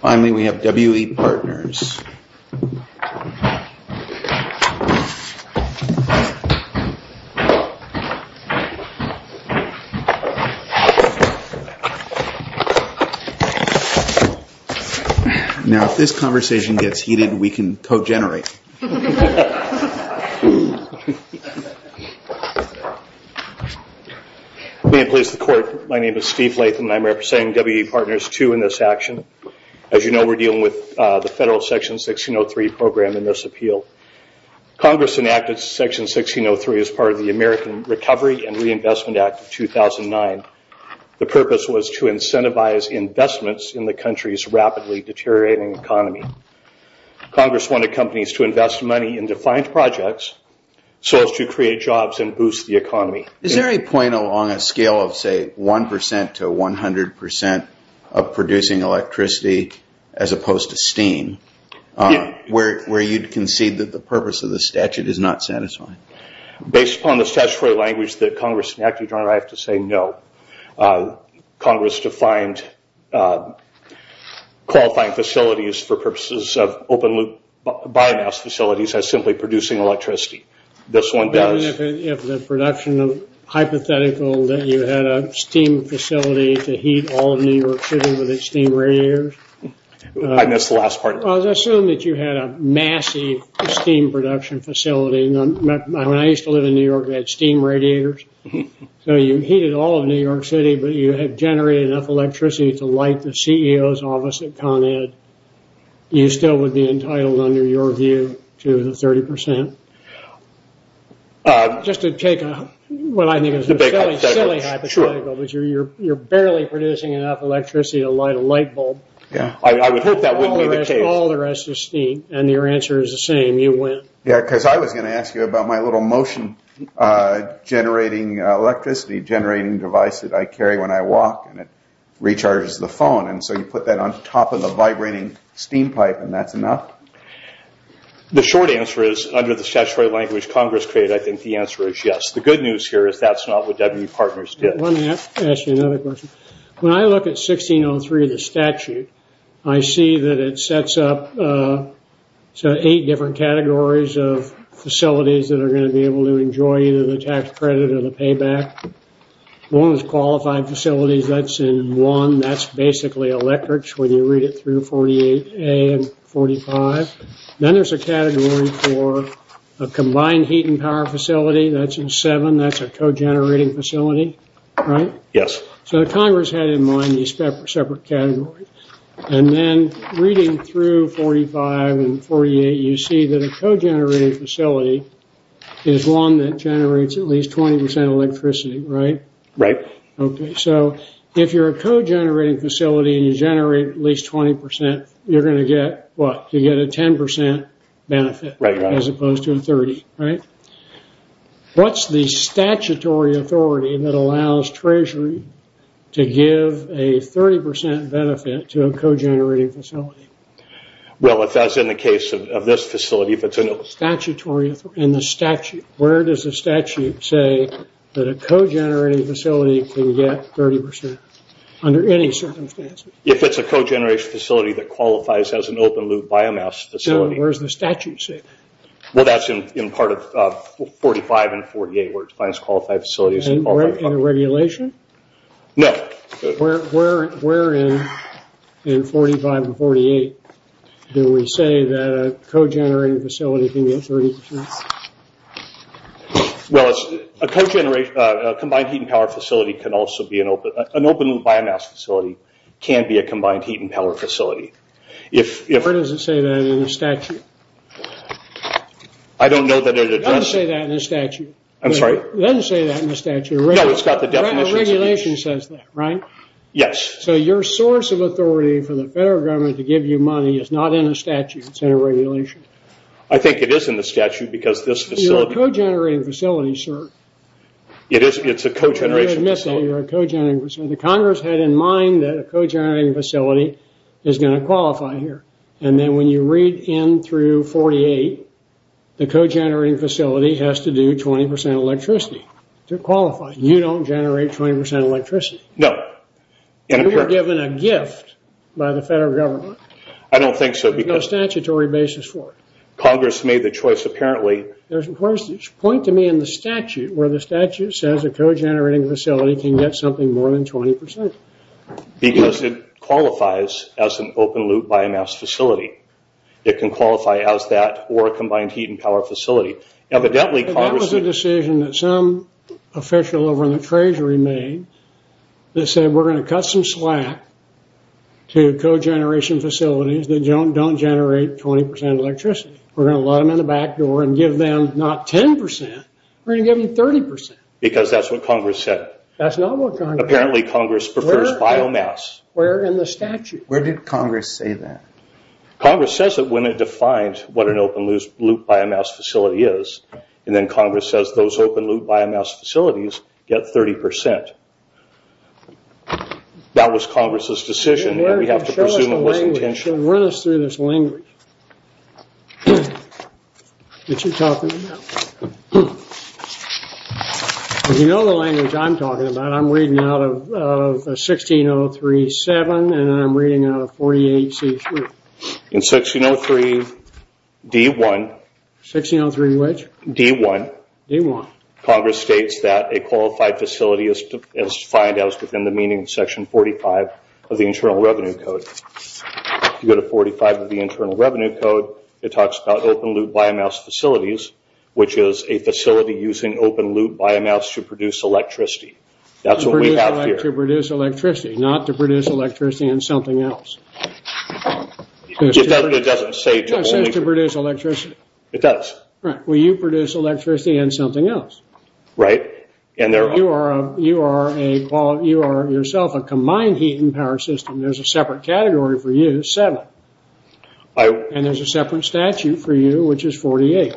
Finally, we have W.E. Partners Now, if this conversation gets heated, we can co-generate. Being pleased to court, my name is Steve Latham and I am representing W.E. Partners II in this action. As you know, we are dealing with the federal Section 1603 program in this appeal. Congress enacted Section 1603 as part of the American Recovery and Reinvestment Act of 2009. The purpose was to incentivize investments in the country's rapidly deteriorating economy. Congress wanted companies to invest money in defined projects so as to create jobs and boost the economy. Is there any point along a scale of, say, 1% to 100% of producing electricity as opposed to steam, where you'd concede that the purpose of the statute is not satisfying? Based upon the statutory language that Congress enacted, your Honor, I have to say no. Congress defined qualifying facilities for purposes of open-loop biomass facilities as simply producing electricity. This one does. If the production of hypothetical that you had a steam facility to heat all of New York City with its steam radiators? I missed the last part. I was assuming that you had a massive steam production facility. When I used to live in New York, we had steam radiators. You heated all of New York City, but you had generated enough electricity to light the CEO's office at Con Ed. You still would be entitled under your view to the 30%. Just to take what I think is a silly hypothetical, but you're barely producing enough electricity to light a light bulb. I would hope that wouldn't be the case. All the rest is steam, and your answer is the same. You win. Yes, because I was going to ask you about my little motion generating electricity, generating device that I carry when I walk, and it recharges the phone. You put that on top of a vibrating steam pipe, and that's enough? The short answer is, under the statutory language Congress created, I think the answer is yes. The good news here is that's not what W.E. Partners did. Let me ask you another question. When I look at 1603, the statute, I see that it sets up eight different categories of facilities that are going to be able to enjoy either the tax credit or the payback. One is qualified facilities. That's in one. That's basically electrics when you read it through 48A and 45. Then there's a category for a combined heat and power facility. That's in seven. That's a co-generating facility, right? Yes. So Congress had in mind these separate categories. Then reading through 45 and 48, you see that a co-generating facility is one that generates at least 20% electricity, right? Right. Okay. So if you're a co-generating facility and you generate at least 20%, you're going to get what? You get a 10% benefit as opposed to a 30%, right? What's the statutory authority that allows Treasury to give a 30% benefit to a co-generating facility? Well, as in the case of this facility, if it's a... Statutory authority. In the statute, where does the statute say that a co-generating facility can get 30% under any circumstances? If it's a co-generating facility that qualifies as an open-loop biomass facility. Where does the statute say that? Well, that's in part of 45 and 48 where it defines qualified facilities. In the regulation? No. Where in 45 and 48 do we say that a co-generating facility can get 30%? Well, a combined heat and power facility can also be an open-loop biomass facility, can be a combined heat and power facility. Where does it say that in the statute? I don't know that it addresses... It doesn't say that in the statute. I'm sorry? It doesn't say that in the statute. No, it's got the definition. But the regulation says that, right? Yes. So your source of authority for the federal government to give you money is not in the statute. It's in a regulation. I think it is in the statute because this facility... You're a co-generating facility, sir. It is. It's a co-generating facility. I'm going to admit that. You're a co-generating facility. The Congress had in mind that a co-generating facility is going to qualify here. And then when you read in through 48, the co-generating facility has to do 20% electricity to qualify. Well, you don't generate 20% electricity. No. And apparently... You were given a gift by the federal government. I don't think so because... There's no statutory basis for it. Congress made the choice apparently... There's a point to me in the statute where the statute says a co-generating facility can get something more than 20%. Because it qualifies as an open loop biomass facility. It can qualify as that or a combined heat and power facility. Evidently, Congress... It's a decision that some official over in the treasury made that said, we're going to cut some slack to co-generation facilities that don't generate 20% electricity. We're going to let them in the back door and give them not 10%, we're going to give them 30%. Because that's what Congress said. That's not what Congress said. Apparently, Congress prefers biomass. Where in the statute? Where did Congress say that? Congress says that when it defines what an open loop biomass facility is, and then Congress says those open loop biomass facilities get 30%. That was Congress's decision. We have to presume it was intentional. Run us through this language that you're talking about. You know the language I'm talking about. I'm reading out of 1603-7 and I'm reading out of 48-C-3. In 1603-D-1. 1603-which? D-1. D-1. Congress states that a qualified facility is defined as within the meaning of section 45 of the Internal Revenue Code. If you go to 45 of the Internal Revenue Code, it talks about open loop biomass facilities, which is a facility using open loop biomass to produce electricity. That's what we have here. To produce electricity. Not to produce electricity in something else. It doesn't say to only produce electricity. It does. Right. It says to only produce electricity in something else. Right. You are yourself a combined heat and power system. There's a separate category for you, seven. There's a separate statute for you, which is 48.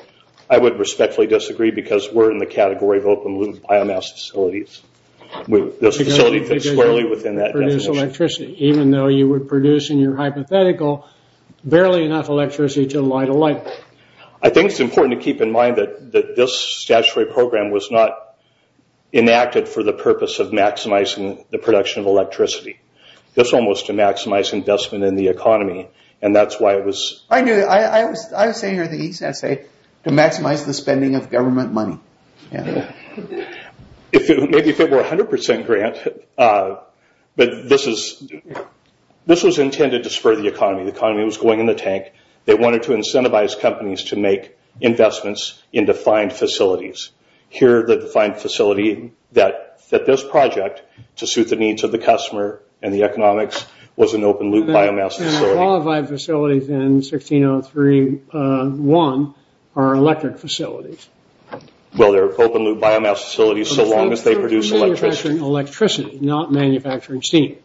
I would respectfully disagree because we're in the category of open loop biomass facilities. Those facilities fit squarely within that definition. To produce electricity, even though you would produce in your hypothetical barely enough electricity to light a light bulb. I think it's important to keep in mind that this statutory program was not enacted for the purpose of maximizing the production of electricity. This one was to maximize investment in the economy. That's why it was- I knew that. I was saying here that he said to maximize the spending of government money. Maybe if it were 100% grant, but this was intended to spur the economy. The economy was going in the tank. They wanted to incentivize companies to make investments in defined facilities. Here the defined facility that fit this project to suit the needs of the customer and the economics was an open loop biomass facility. The qualified facilities in 1603-1 are electric facilities. Well, they're open loop biomass facilities so long as they produce electricity. Manufacturing electricity, not manufacturing steam.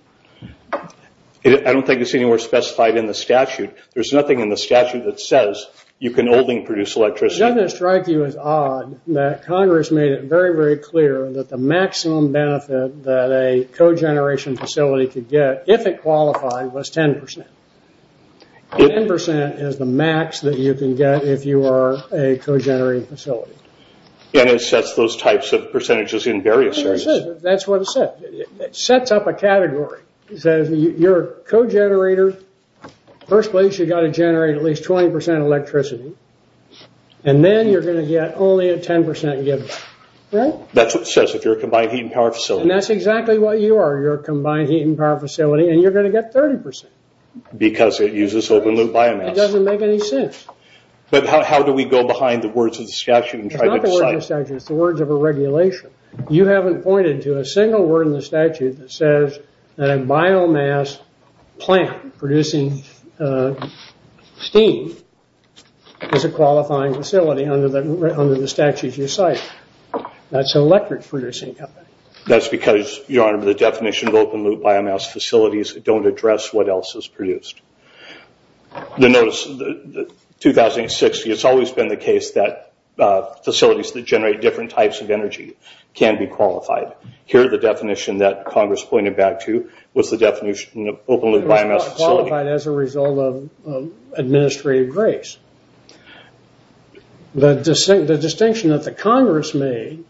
I don't think it's anywhere specified in the statute. There's nothing in the statute that says you can only produce electricity. Doesn't it strike you as odd that Congress made it very, very clear that the maximum benefit that a cogeneration facility could get if it qualified was 10%. 10% is the max that you can get if you are a cogenerating facility. It sets those types of percentages in various areas. That's what it says. It sets up a category. It says you're a cogenerator. First place you got to generate at least 20% electricity. Then you're going to get only a 10% gift. That's what it says if you're a combined heat and power facility. That's exactly what you are. You're a combined heat and power facility and you're going to get 30%. Because it uses open loop biomass. That doesn't make any sense. How do we go behind the words of the statute? It's not the words of the statute. It's the words of a regulation. You haven't pointed to a single word in the statute that says that a biomass plant producing steam is a qualifying facility under the statutes you cite. That's an electric producing company. That's because, Your Honor, the definition of open loop biomass facilities don't address what else is produced. The notice, 2060, it's always been the case that facilities that generate different types of energy can be qualified. Here the definition that Congress pointed back to was the definition of open loop biomass facility. It was qualified as a result of administrative grace. The distinction that the Congress made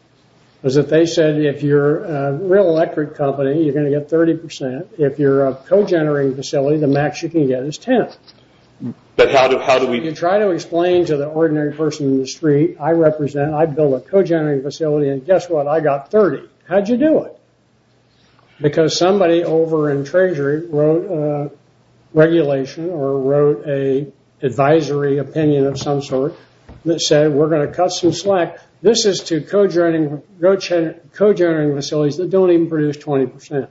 was that they said if you're a real electric company you're going to get 30%. If you're a co-generating facility, the max you can get is 10. You try to explain to the ordinary person in the street, I represent, I build a co-generating facility and guess what? I got 30. How'd you do it? Because somebody over in Treasury wrote a regulation or wrote a advisory opinion of some sort that said we're going to cut some slack. This is to co-generating facilities that don't even produce 20%.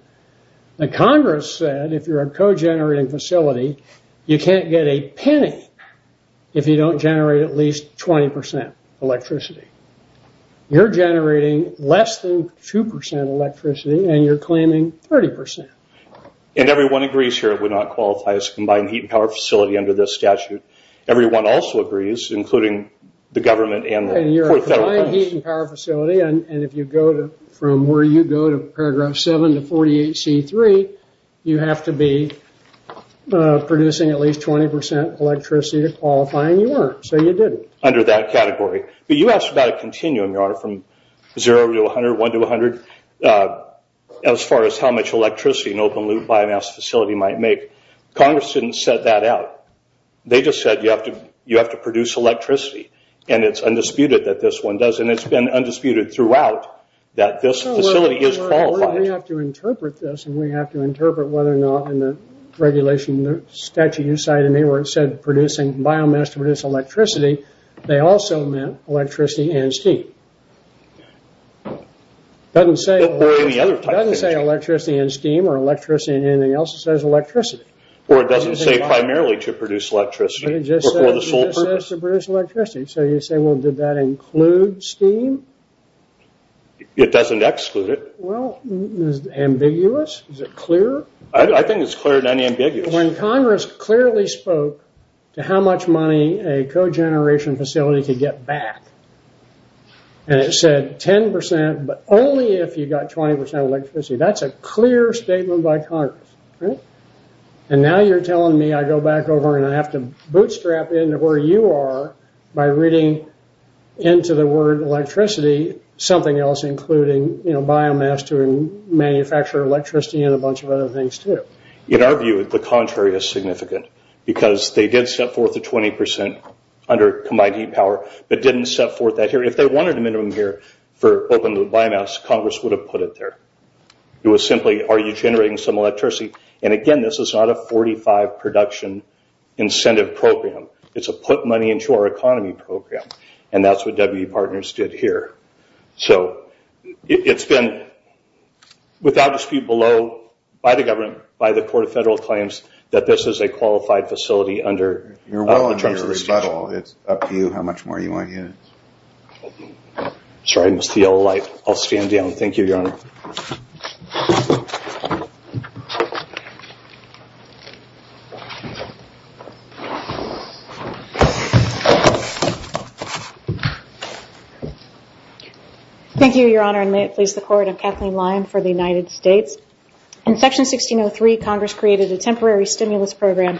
The Congress said if you're a co-generating facility, you can't get a penny if you don't generate at least 20% electricity. You're generating less than 2% electricity and you're claiming 30%. Everyone agrees here it would not qualify as a combined heat and power facility under this statute. Everyone also agrees, including the government and the court of federal courts. Combined heat and power facility and if you go from where you go to paragraph 7 to 48C3 you have to be producing at least 20% electricity to qualify and you weren't. So you didn't. Under that category. But you asked about a continuum, your honor, from 0 to 100, 1 to 100 as far as how much electricity an open loop biomass facility might make. Congress didn't set that out. They just said you have to produce electricity and it's undisputed that this one does and it's been undisputed throughout that this facility is qualified. We have to interpret this and we have to interpret whether or not in the regulation statute you cited me where it said biomass to produce electricity, they also meant electricity and steam. It doesn't say electricity and steam or electricity and anything else, it says electricity. Or it doesn't say primarily to produce electricity or for the sole purpose. It just says to produce electricity. So you say, well, did that include steam? It doesn't exclude it. Well, is it ambiguous? Is it clear? I think it's clear and unambiguous. When Congress clearly spoke to how much money a cogeneration facility could get back and it said 10% but only if you got 20% electricity, that's a clear statement by Congress. And now you're telling me I go back over and I have to bootstrap into where you are by reading into the word electricity something else including biomass to manufacture electricity and a bunch of other things too. In our view, the contrary is significant because they did set forth a 20% under combined heat power but didn't set forth that here. If they wanted a minimum here for open biomass, Congress would have put it there. It was simply, are you generating some electricity? And again, this is not a 45 production incentive program. It's a put money into our economy program. And that's what WB Partners did here. So it's been, without dispute, below by the government, by the Court of Federal Claims, that this is a qualified facility under the terms of the state law. It's up to you how much more you want units. Sorry, Mr. Yellow Light. I'll stand down. Thank you, Your Honor. Thank you, Your Honor, and may it please the Court. I'm Kathleen Lyon for the United States. In Section 1603, Congress created a temporary stimulus program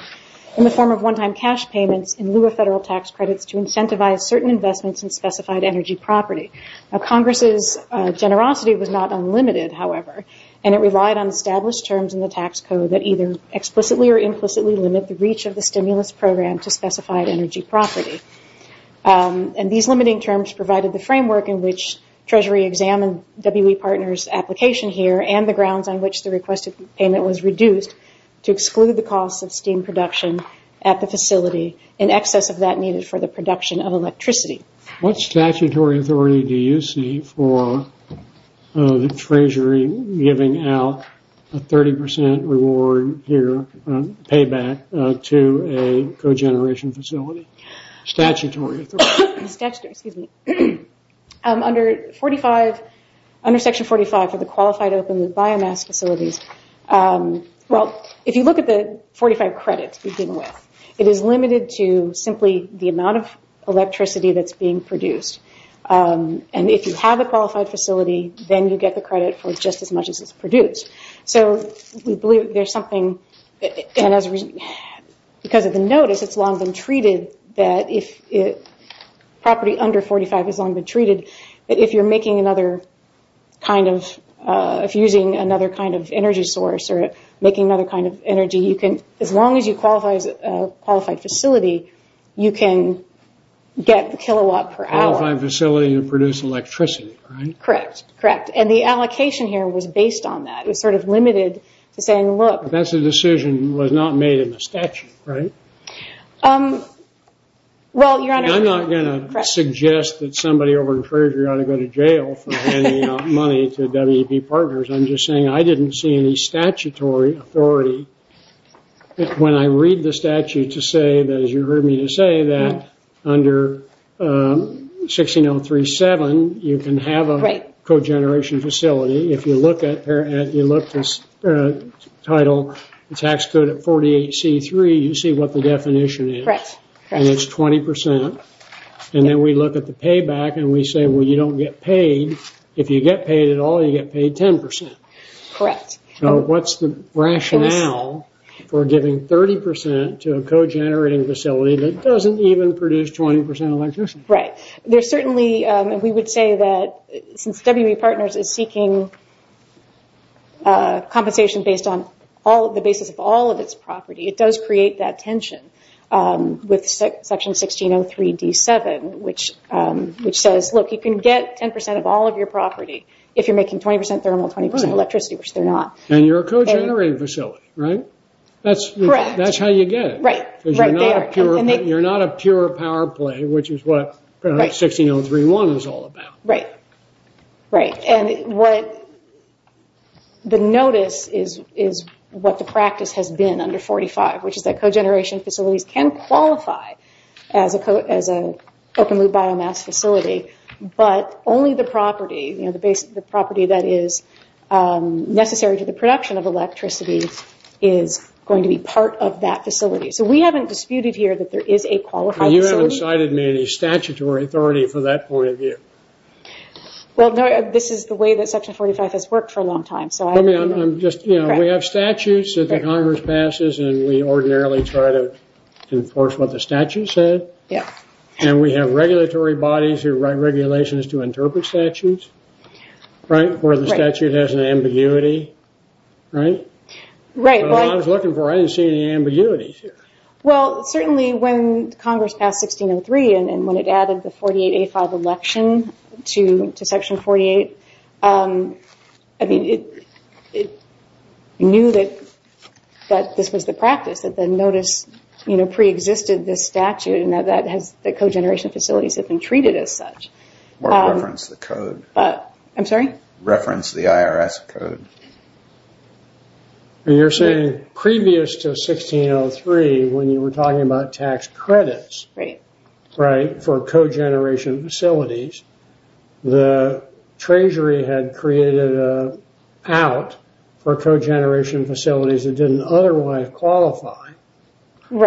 in the form of one-time cash payments in lieu of federal tax credits to incentivize certain investments in specified energy property. Now, Congress's generosity was not unlimited, however, and it relied on established terms in the tax code that either explicitly or implicitly limit the reach of the stimulus program to specified energy property. And these limiting terms provided the framework in which Treasury examined WB Partners' application here and the grounds on which the requested payment was reduced to exclude the cost of steam production at the facility in excess of that needed for the production of electricity. What statutory authority do you see for the Treasury giving out a 30% reward here, payback to a cogeneration facility? Statutory authority. Statutory. Excuse me. Under Section 45 for the qualified open biomass facilities, well, if you look at the 45 credits to begin with, it is limited to simply the amount of electricity that's being produced. And if you have a qualified facility, then you get the credit for just as much as it's produced. So we believe there's something, and because of the notice, it's long been treated that if property under 45 has long been treated, that if you're making another kind of, if you're using another kind of energy source or making another kind of energy, you can, as long as you qualify as a qualified facility, you can get the kilowatt per hour. Qualified facility to produce electricity, right? Correct. Correct. And the allocation here was based on that. It was sort of limited to saying, look... But that's a decision that was not made in the statute, right? Well, Your Honor... I'm not going to suggest that somebody over at the Treasury ought to go to jail for handing out money to WB Partners. I'm just saying I didn't see any statutory authority. When I read the statute to say that, as you heard me to say, that under 16037, you can have a cogeneration facility. If you look at this title, the tax code at 48C3, you see what the definition is. Correct. And it's 20%. And then we look at the payback and we say, well, you don't get paid. If you get paid at all, you get paid 10%. Correct. So what's the rationale for giving 30% to a cogenerating facility that doesn't even produce 20% electricity? Right. There's certainly... We would say that since WB Partners is seeking compensation based on the basis of all of its property, it does create that tension with Section 1603D7, which says, look, you can get 10% of all of your property if you're making 20% thermal, 20% electricity, which they're not. And you're a cogenerating facility, right? Correct. That's how you get it. Right. Because you're not a pure power play, which is what 16031 is all about. Right. Right. And the notice is what the practice has been under 45, which is that cogeneration facilities can qualify as an open-loop biomass facility, but only the property, the property that is necessary to the production of electricity is going to be part of that facility. So we haven't disputed here that there is a qualified facility. You haven't cited me any statutory authority for that point of view. Well, this is the way that Section 45 has worked for a long time. We have statutes that the Congress passes, and we ordinarily try to enforce what the statute said. Yeah. And we have regulatory bodies who write regulations to interpret statutes, right, where the statute has an ambiguity, right? Right. Well, I was looking for it. I didn't see any ambiguities here. Well, certainly when Congress passed 1603 and when it added the 48A5 election to Section 48, I mean, it knew that this was the practice, that the notice, you know, preexisted this statute, and that cogeneration facilities have been treated as such. Well, reference the code. I'm sorry? Reference the IRS code. You're saying previous to 1603, when you were talking about tax credits, right, for cogeneration facilities, the Treasury had created an out for cogeneration facilities that didn't otherwise qualify for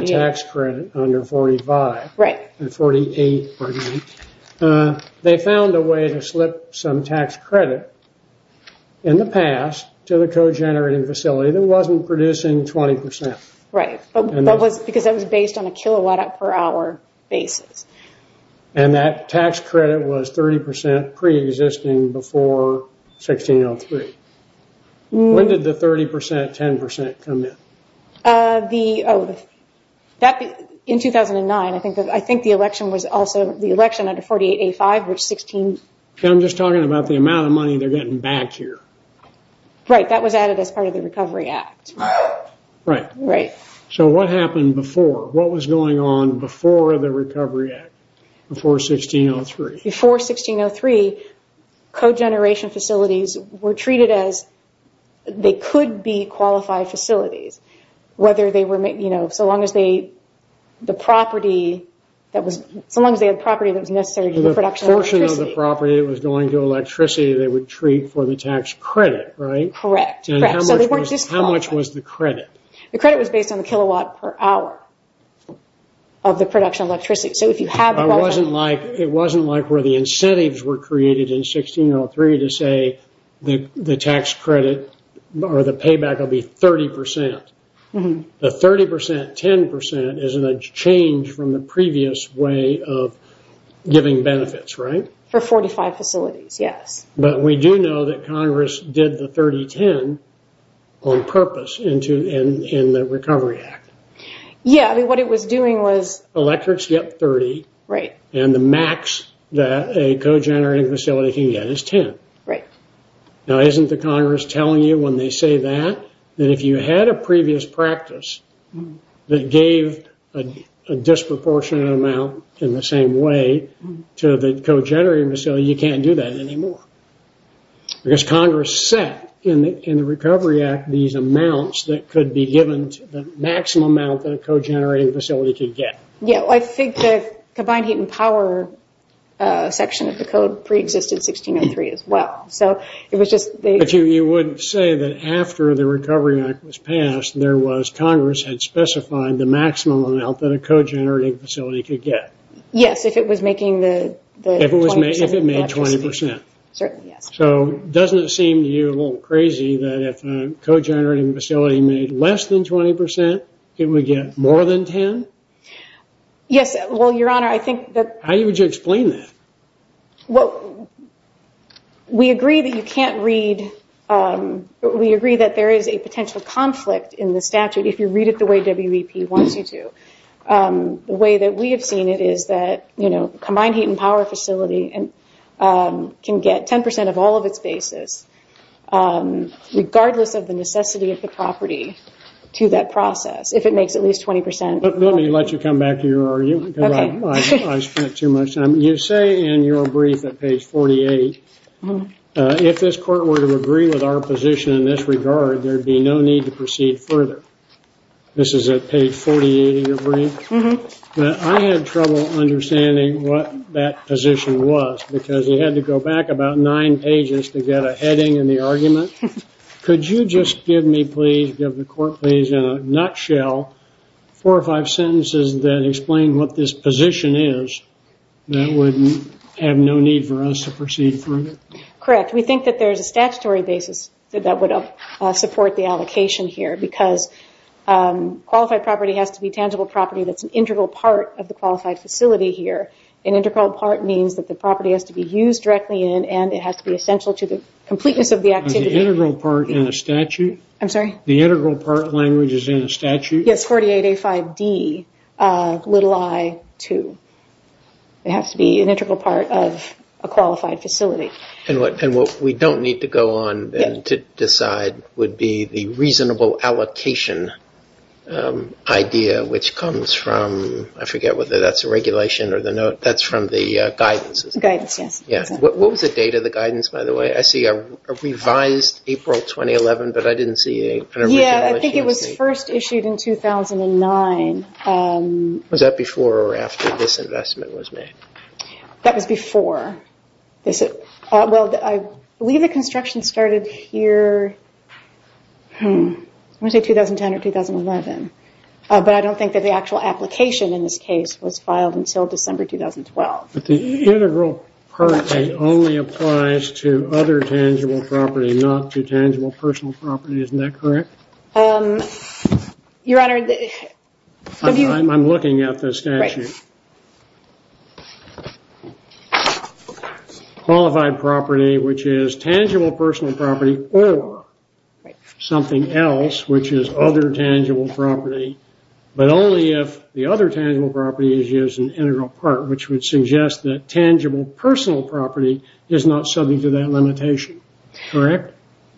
the tax credit under 48. They found a way to slip some tax credit in the past to the cogenerating facility that wasn't producing 20%. Right. Because that was based on a kilowatt per hour basis. And that tax credit was 30% preexisting before 1603. When did the 30%, 10% come in? In 2009. I think the election was also, the election under 48A5, which 16... I'm just talking about the amount of money they're getting back here. Right. That was added as part of the Recovery Act. Right. Right. So what happened before? What was going on before the Recovery Act, before 1603? Before 1603, cogeneration facilities were treated as they could be qualified facilities, whether they were, you know, so long as they, the property that was, so long as they had property that was necessary to the production of electricity. The portion of the property that was going to electricity they would treat for the tax credit, right? Correct. Correct. So they weren't just qualified. How much was the credit? The credit was based on the kilowatt per hour of the production of electricity. So if you have... It wasn't like where the incentives were created in 1603 to say the tax credit or the payback will be 30%. The 30%, 10% is a change from the previous way of giving benefits, right? For 45 facilities, yes. But we do know that Congress did the 30, 10 on purpose in the Recovery Act. Yeah. I mean, what it was doing was... Electrics get 30. Right. And the max that a cogenerating facility can get is 10. Right. Now, isn't the Congress telling you when they say that, that if you had a previous practice that gave a disproportionate amount in the same way to the cogenerating facility, you can't do that anymore? Because Congress set in the Recovery Act these amounts that could be given to the maximum amount that a cogenerating facility could get. Yeah. Well, I think the combined heat and power section of the code preexisted in 1603 as well. So it was just... But you wouldn't say that after the Recovery Act was passed, there was...Congress had specified the maximum amount that a cogenerating facility could get. Yes. If it was making the 20% electricity. If it made 20%. Certainly, yes. So doesn't it seem to you a little crazy that if a cogenerating facility made less than 20%, it would get more than 10? Yes. Well, Your Honor, I think that... How would you explain that? Well, we agree that you can't read... We agree that there is a potential conflict in the statute if you read it the way WVP wants you to. The way that we have seen it is that, you know, combined heat and power facility can get 10% of all of its basis regardless of the necessity of the property to that process if it makes at least 20%. Let me let you come back to your argument. Okay. I spent too much time. You say in your brief at page 48, if this court were to agree with our position in this regard, there'd be no need to proceed further. This is at page 48 of your brief? Mm-hmm. I had trouble understanding what that position was because you had to go back about nine pages to get a heading in the argument. Could you just give me, please, give the court, please, in a nutshell, four or five sentences that explain what this position is that would have no need for us to proceed further? Correct. We think that there's a statutory basis that would support the allocation here because qualified property has to be tangible property that's an integral part of the qualified facility here. An integral part means that the property has to be used directly in and it has to be essential to the completeness of the activity. An integral part in a statute? I'm sorry? The integral part language is in a statute? Yes, 48A5D, little i, 2. It has to be an integral part of a qualified facility. And what we don't need to go on to decide would be the reasonable allocation idea which comes from, I forget whether that's a regulation or the note, that's from the guidance, isn't it? Guidance, yes. What was the date of the guidance, by the way? I see a revised April 2011, but I didn't see an original issue. Yeah, I think it was first issued in 2009. Was that before or after this investment was made? That was before. Well, I believe the construction started here, I want to say 2010 or 2011, but I don't think that the actual application in this case was filed until December 2012. But the integral part only applies to other tangible property, not to tangible personal property, isn't that correct? Your Honor, if you... I'm looking at the statute. Right. Qualified property, which is tangible personal property, or something else, which is other tangible property, but only if the other tangible property is used in integral part, which would suggest that tangible personal property is not subject to that limitation, correct?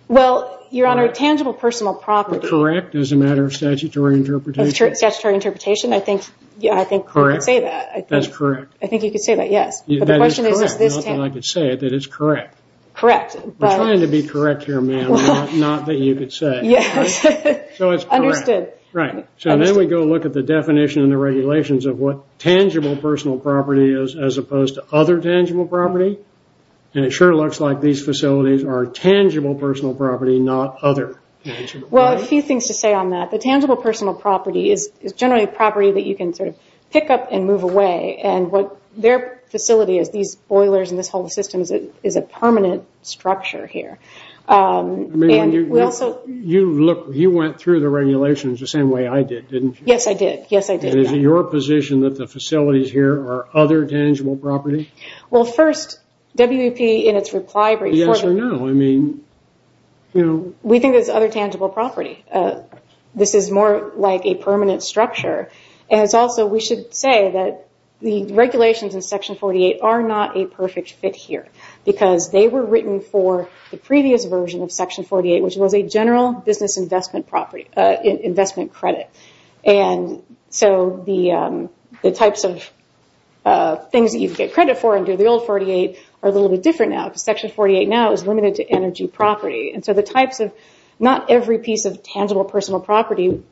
Well, Your Honor, tangible personal property... Correct, as a matter of statutory interpretation. Of statutory interpretation, I think you could say that. That's correct. I think you could say that, yes. That is correct, not that I could say it, that is correct. Correct, but... I'm trying to be correct here, ma'am, not that you could say it. Yes, understood. Right, so then we go look at the definition and the regulations of what tangible personal property is as opposed to other tangible property, and it sure looks like these facilities are tangible personal property, not other tangible property. Well, a few things to say on that. The tangible personal property is generally a property that you can sort of pick up and move away, and what their facility is, these boilers and this whole system is a permanent structure here. You went through the regulations the same way I did, didn't you? Yes, I did. Yes, I did. Is it your position that the facilities here are other tangible property? Well, first, WEP in its reply brief... Yes or no? We think it's other tangible property. This is more like a permanent structure, and it's also... We should say that the regulations in Section 48 are not a perfect fit here, because they were written for the previous version of Section 48, which was a general business investment property... Investment credit, and so the types of things that you could get credit for under the old 48 are a little bit different now, because Section 48 now is limited to energy property, and so the types of... Not every piece of tangible personal property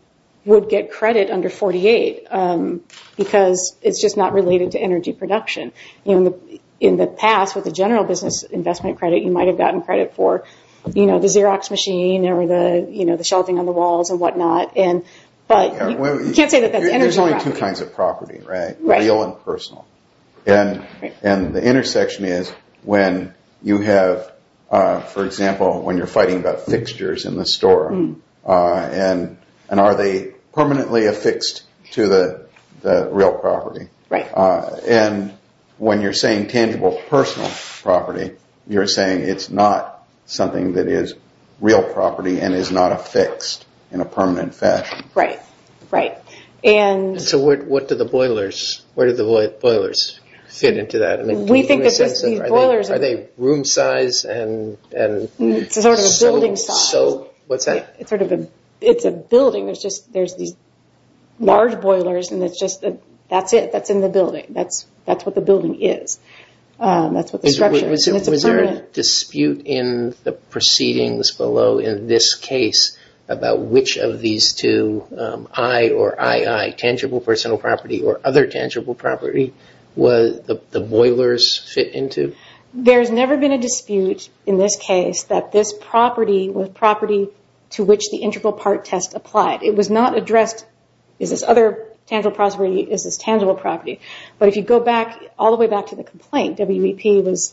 would get credit under 48, because it's just not related to energy production. In the past, with the general business investment credit, you might have gotten credit for the Xerox machine or the shelving on the walls and whatnot, but you can't say that that's energy property. There's only two kinds of property, right? Real and personal. Right. And the intersection is when you have, for example, when you're fighting about fixtures in the store, and are they permanently affixed to the real property? Right. And when you're saying tangible personal property, you're saying it's not something that is real property and is not affixed in a permanent fashion. Right. Right. What do the boilers fit into that? We think that these boilers... Are they room size? Sort of a building size. What's that? It's a building. There's these large boilers, and that's it. That's in the building. That's what the building is. That's what the structure is, and it's a permanent... or other tangible property, the boilers fit into? There's never been a dispute in this case that this property was property to which the integral part test applied. It was not addressed, is this other tangible property, is this tangible property? But if you go back, all the way back to the complaint, WVP was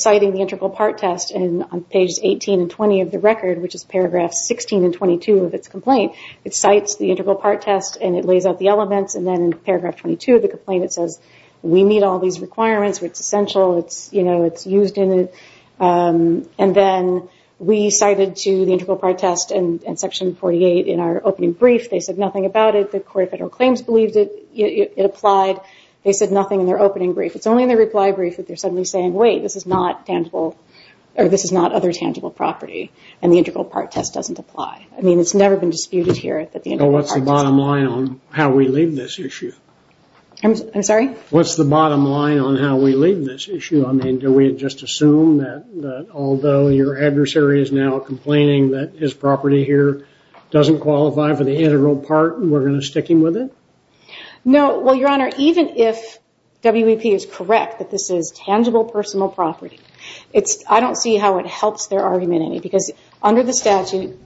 citing the integral part test, and on pages 18 and 20 of the record, which is paragraphs 16 and 22 of its complaint, it cites the integral part test, and it lays out the elements, and then in paragraph 22 of the complaint, it says, we meet all these requirements. It's essential. It's used in it. And then we cited to the integral part test in section 48 in our opening brief. They said nothing about it. The Court of Federal Claims believed it applied. They said nothing in their opening brief. It's only in their reply brief that they're suddenly saying, wait, this is not other tangible property, and the integral part test doesn't apply. I mean, it's never been disputed here that the integral part test. Well, what's the bottom line on how we leave this issue? I'm sorry? What's the bottom line on how we leave this issue? I mean, do we just assume that although your adversary is now complaining that his property here doesn't qualify for the integral part, we're going to stick him with it? No. Well, Your Honor, even if WVP is correct that this is tangible personal property, I don't see how it helps their argument any, because under the statute,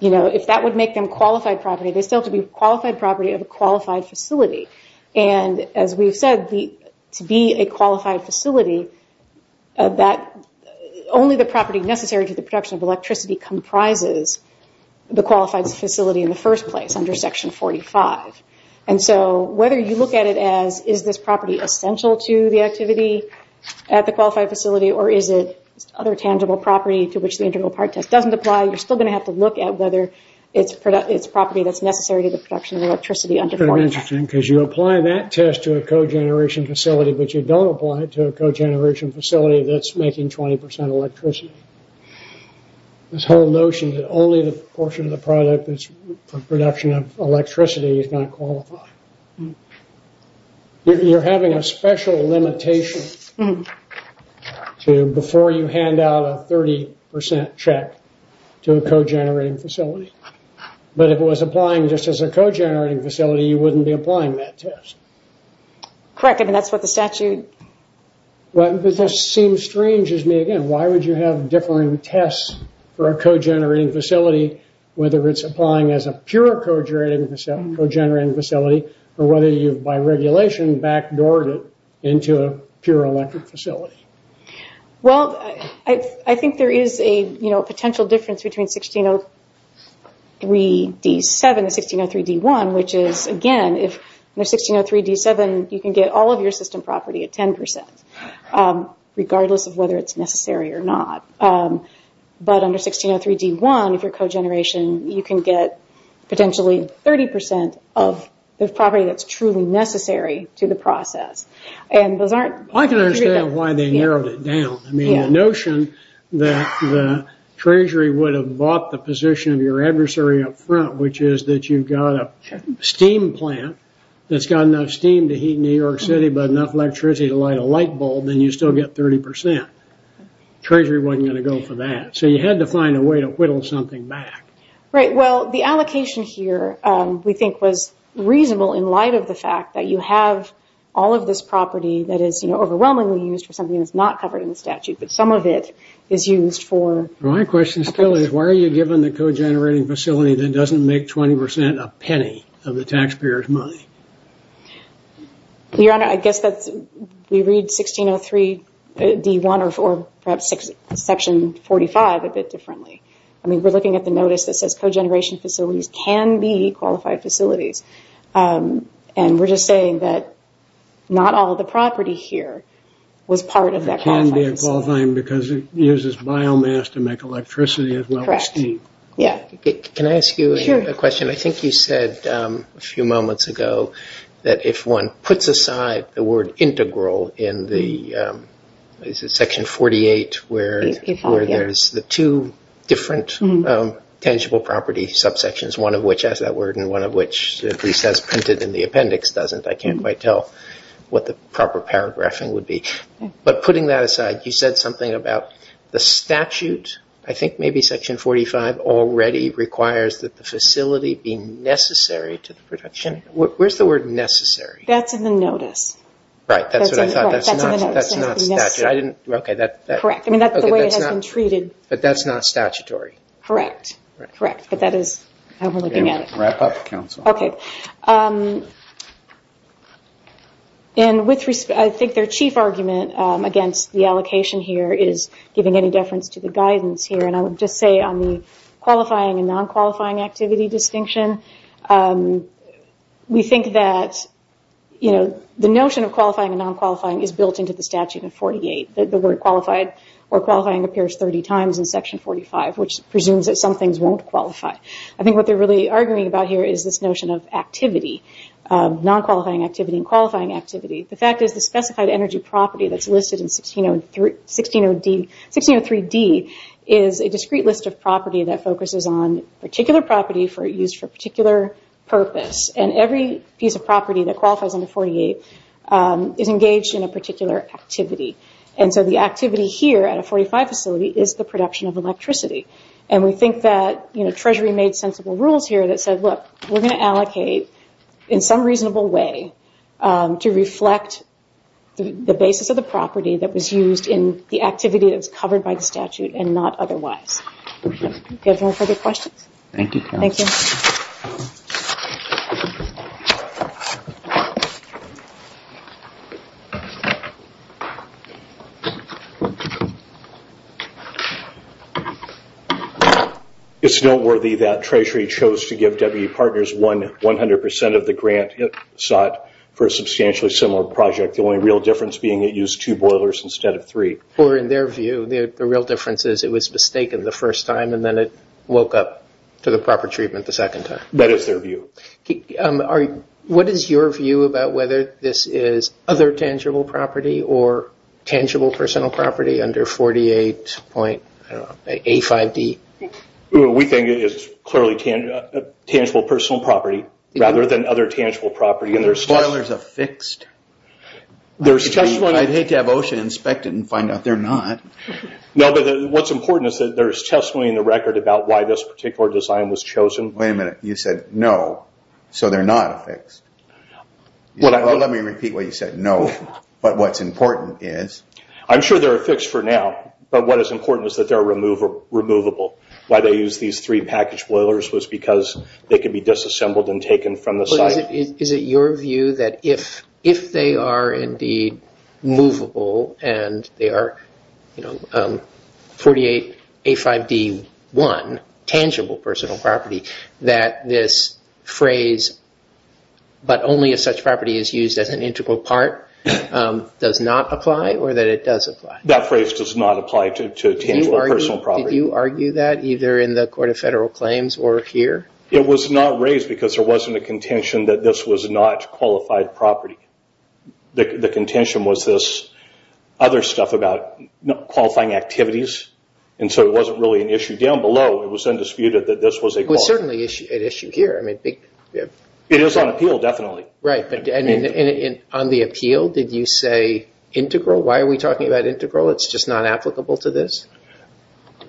if that would make them qualified property, they still have to be qualified property of a qualified facility. And as we've said, to be a qualified facility, only the property necessary to the production of electricity comprises the qualified facility in the first place under section 45. And so whether you look at it as, is this property essential to the activity at the facility or a tangible property to which the integral part test doesn't apply, you're still going to have to look at whether it's a property that's necessary to the production of electricity under 45. Very interesting, because you apply that test to a cogeneration facility, but you don't apply it to a cogeneration facility that's making 20% electricity. This whole notion that only the portion of the product is for production of electricity is not qualified. You're having a special limitation before you hand out a 30% check to a cogenerating facility. But if it was applying just as a cogenerating facility, you wouldn't be applying that test. Correct. I mean, that's what the statute... Well, it just seems strange to me again. Why would you have different tests for a cogenerating facility, whether it's applying as a pure cogenerating facility, or whether you, by regulation, backdoored it into a pure electric facility? Well, I think there is a potential difference between 1603-D7 and 1603-D1, which is, again, under 1603-D7, you can get all of your system property at 10%, regardless of whether it's necessary or not. But under 1603-D1, if you're cogeneration, you can get potentially 30% of the property that's truly necessary to the process. And those aren't... I can understand why they narrowed it down. I mean, the notion that the treasury would have bought the position of your adversary up front, which is that you've got a steam plant that's got enough steam to heat New York City, but enough electricity to light a light bulb, then you still get 30%. Treasury wasn't going to go for that. So you had to find a way to whittle something back. Right. Well, the allocation here, we think, was reasonable in light of the fact that you have all of this property that is overwhelmingly used for something that's not covered in the statute, but some of it is used for... My question still is, why are you given the cogenerating facility that doesn't make 20% a penny of the taxpayer's money? Your Honor, I guess that's... We read 1603-D1 or perhaps Section 45 a bit differently. I mean, we're looking at the notice that says cogeneration facilities can be qualified facilities. And we're just saying that not all the property here was part of that qualified facility. It can be a qualified facility because it uses biomass to make electricity as well as steam. Yeah. Can I ask you a question? Sure. I mean, I think you said a few moments ago that if one puts aside the word integral in Section 48 where there's the two different tangible property subsections, one of which has that word and one of which, at least as printed in the appendix, doesn't. I can't quite tell what the proper paragraphing would be. But putting that aside, you said something about the statute. I think maybe Section 45 already requires that the facility be necessary to the production. Where's the word necessary? That's in the notice. Right. That's what I thought. That's not statutory. I didn't... Okay. Correct. I mean, that's the way it has been treated. But that's not statutory. Correct. Correct. But that is how we're looking at it. Wrap up, counsel. Okay. And with respect... I think their chief argument against the allocation here is giving any deference to the guidance here. And I would just say on the qualifying and non-qualifying activity distinction, we think that the notion of qualifying and non-qualifying is built into the statute in 48. The word qualified or qualifying appears 30 times in Section 45, which presumes that some things won't qualify. I think what they're really arguing about here is this notion of activity, non-qualifying activity and qualifying activity. The fact is the specified energy property that's listed in 1603D is a discrete list of property that focuses on particular property used for a particular purpose. And every piece of property that qualifies under 48 is engaged in a particular activity. And so the activity here at a 45 facility is the production of electricity. And we think that Treasury made sensible rules here that said, look, we're going to allocate in some reasonable way to reflect the basis of the property that was used in the activity that was covered by the statute and not otherwise. Do you have any further questions? Thank you, counsel. Thank you. It's noteworthy that Treasury chose to give W.E. Partners 100% of the grant it sought for a substantially similar project. The only real difference being it used two boilers instead of three. Or in their view, the real difference is it was mistaken the first time and then it woke up to the proper treatment the second time. That is their view. What is your view about whether this is other tangible property or tangible personal property under 48.A5D? We think it is clearly tangible personal property rather than other tangible property. Are the boilers affixed? I'd hate to have OSHA inspect it and find out they're not. No, but what's important is that there's testimony in the record about why this particular design was chosen. Wait a minute. You said no. So they're not affixed. Let me repeat what you said. No. But what's important is... I'm sure they're affixed for now, but what is important is that they're removable. Why they used these three package boilers was because they could be disassembled and taken from the site. Is it your view that if they are indeed movable and they are 48.A5D1, tangible personal property, that this phrase, but only if such property is used as an integral part, does not apply or that it does apply? That phrase does not apply to tangible personal property. Did you argue that either in the Court of Federal Claims or here? It was not raised because there wasn't a contention that this was not qualified property. The contention was this other stuff about qualifying activities, and so it wasn't really an issue. Down below, it was undisputed that this was a qualified... It was certainly an issue here. It is on appeal, definitely. On the appeal, did you say integral? Why are we talking about integral? It's just not applicable to this?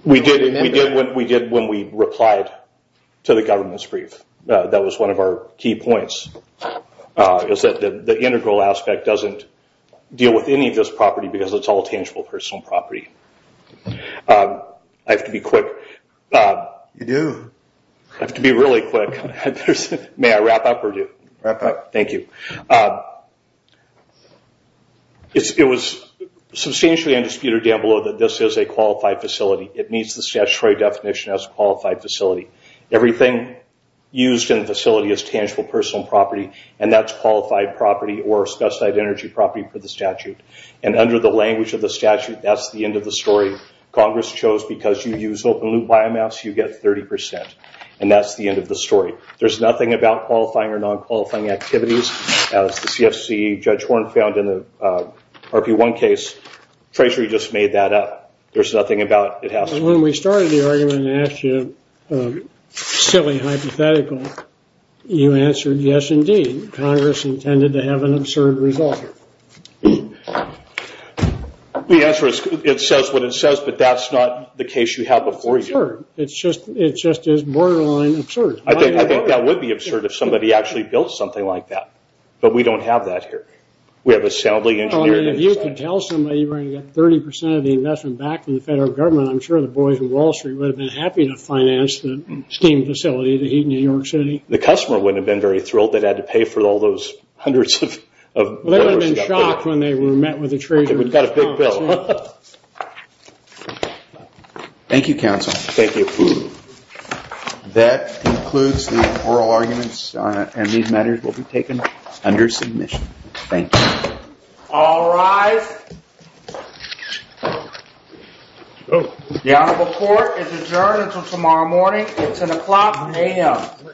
We did when we replied to the government's brief. That was one of our key points, is that the integral aspect doesn't deal with any of this property because it's all tangible personal property. I have to be quick. You do. I have to be really quick. May I wrap up or do? Wrap up. Thank you. It was substantially undisputed down below that this is a qualified facility. It meets the statutory definition as a qualified facility. Everything used in the facility is tangible personal property, and that's qualified property or specified energy property for the statute. Under the language of the statute, that's the end of the story. Congress chose because you use open-loop biomass, you get 30%, and that's the end of the story. There's nothing about qualifying or non-qualifying activities. As the CFC Judge Horne found in the RP1 case, Treasury just made that up. There's nothing about it happening. When we started the argument and asked you a silly hypothetical, you answered yes, indeed. Congress intended to have an absurd result. The answer is it says what it says, but that's not the case you had before you. It's just as borderline absurd. I think that would be absurd if somebody actually built something like that, but we don't have that here. We have a soundly engineered... If you could tell somebody you were going to get 30% of the investment back from the federal government, I'm sure the boys in Wall Street would have been happy to finance the steam facility, the heat in New York City. The customer wouldn't have been very thrilled they'd had to pay for all those hundreds of... They would have been shocked when they met with the treasurer. We've got a big bill. Thank you, counsel. Thank you. That concludes the oral arguments, and these matters will be taken under submission. Thank you. All rise. The honorable court is adjourned until tomorrow morning. It's an o'clock a.m.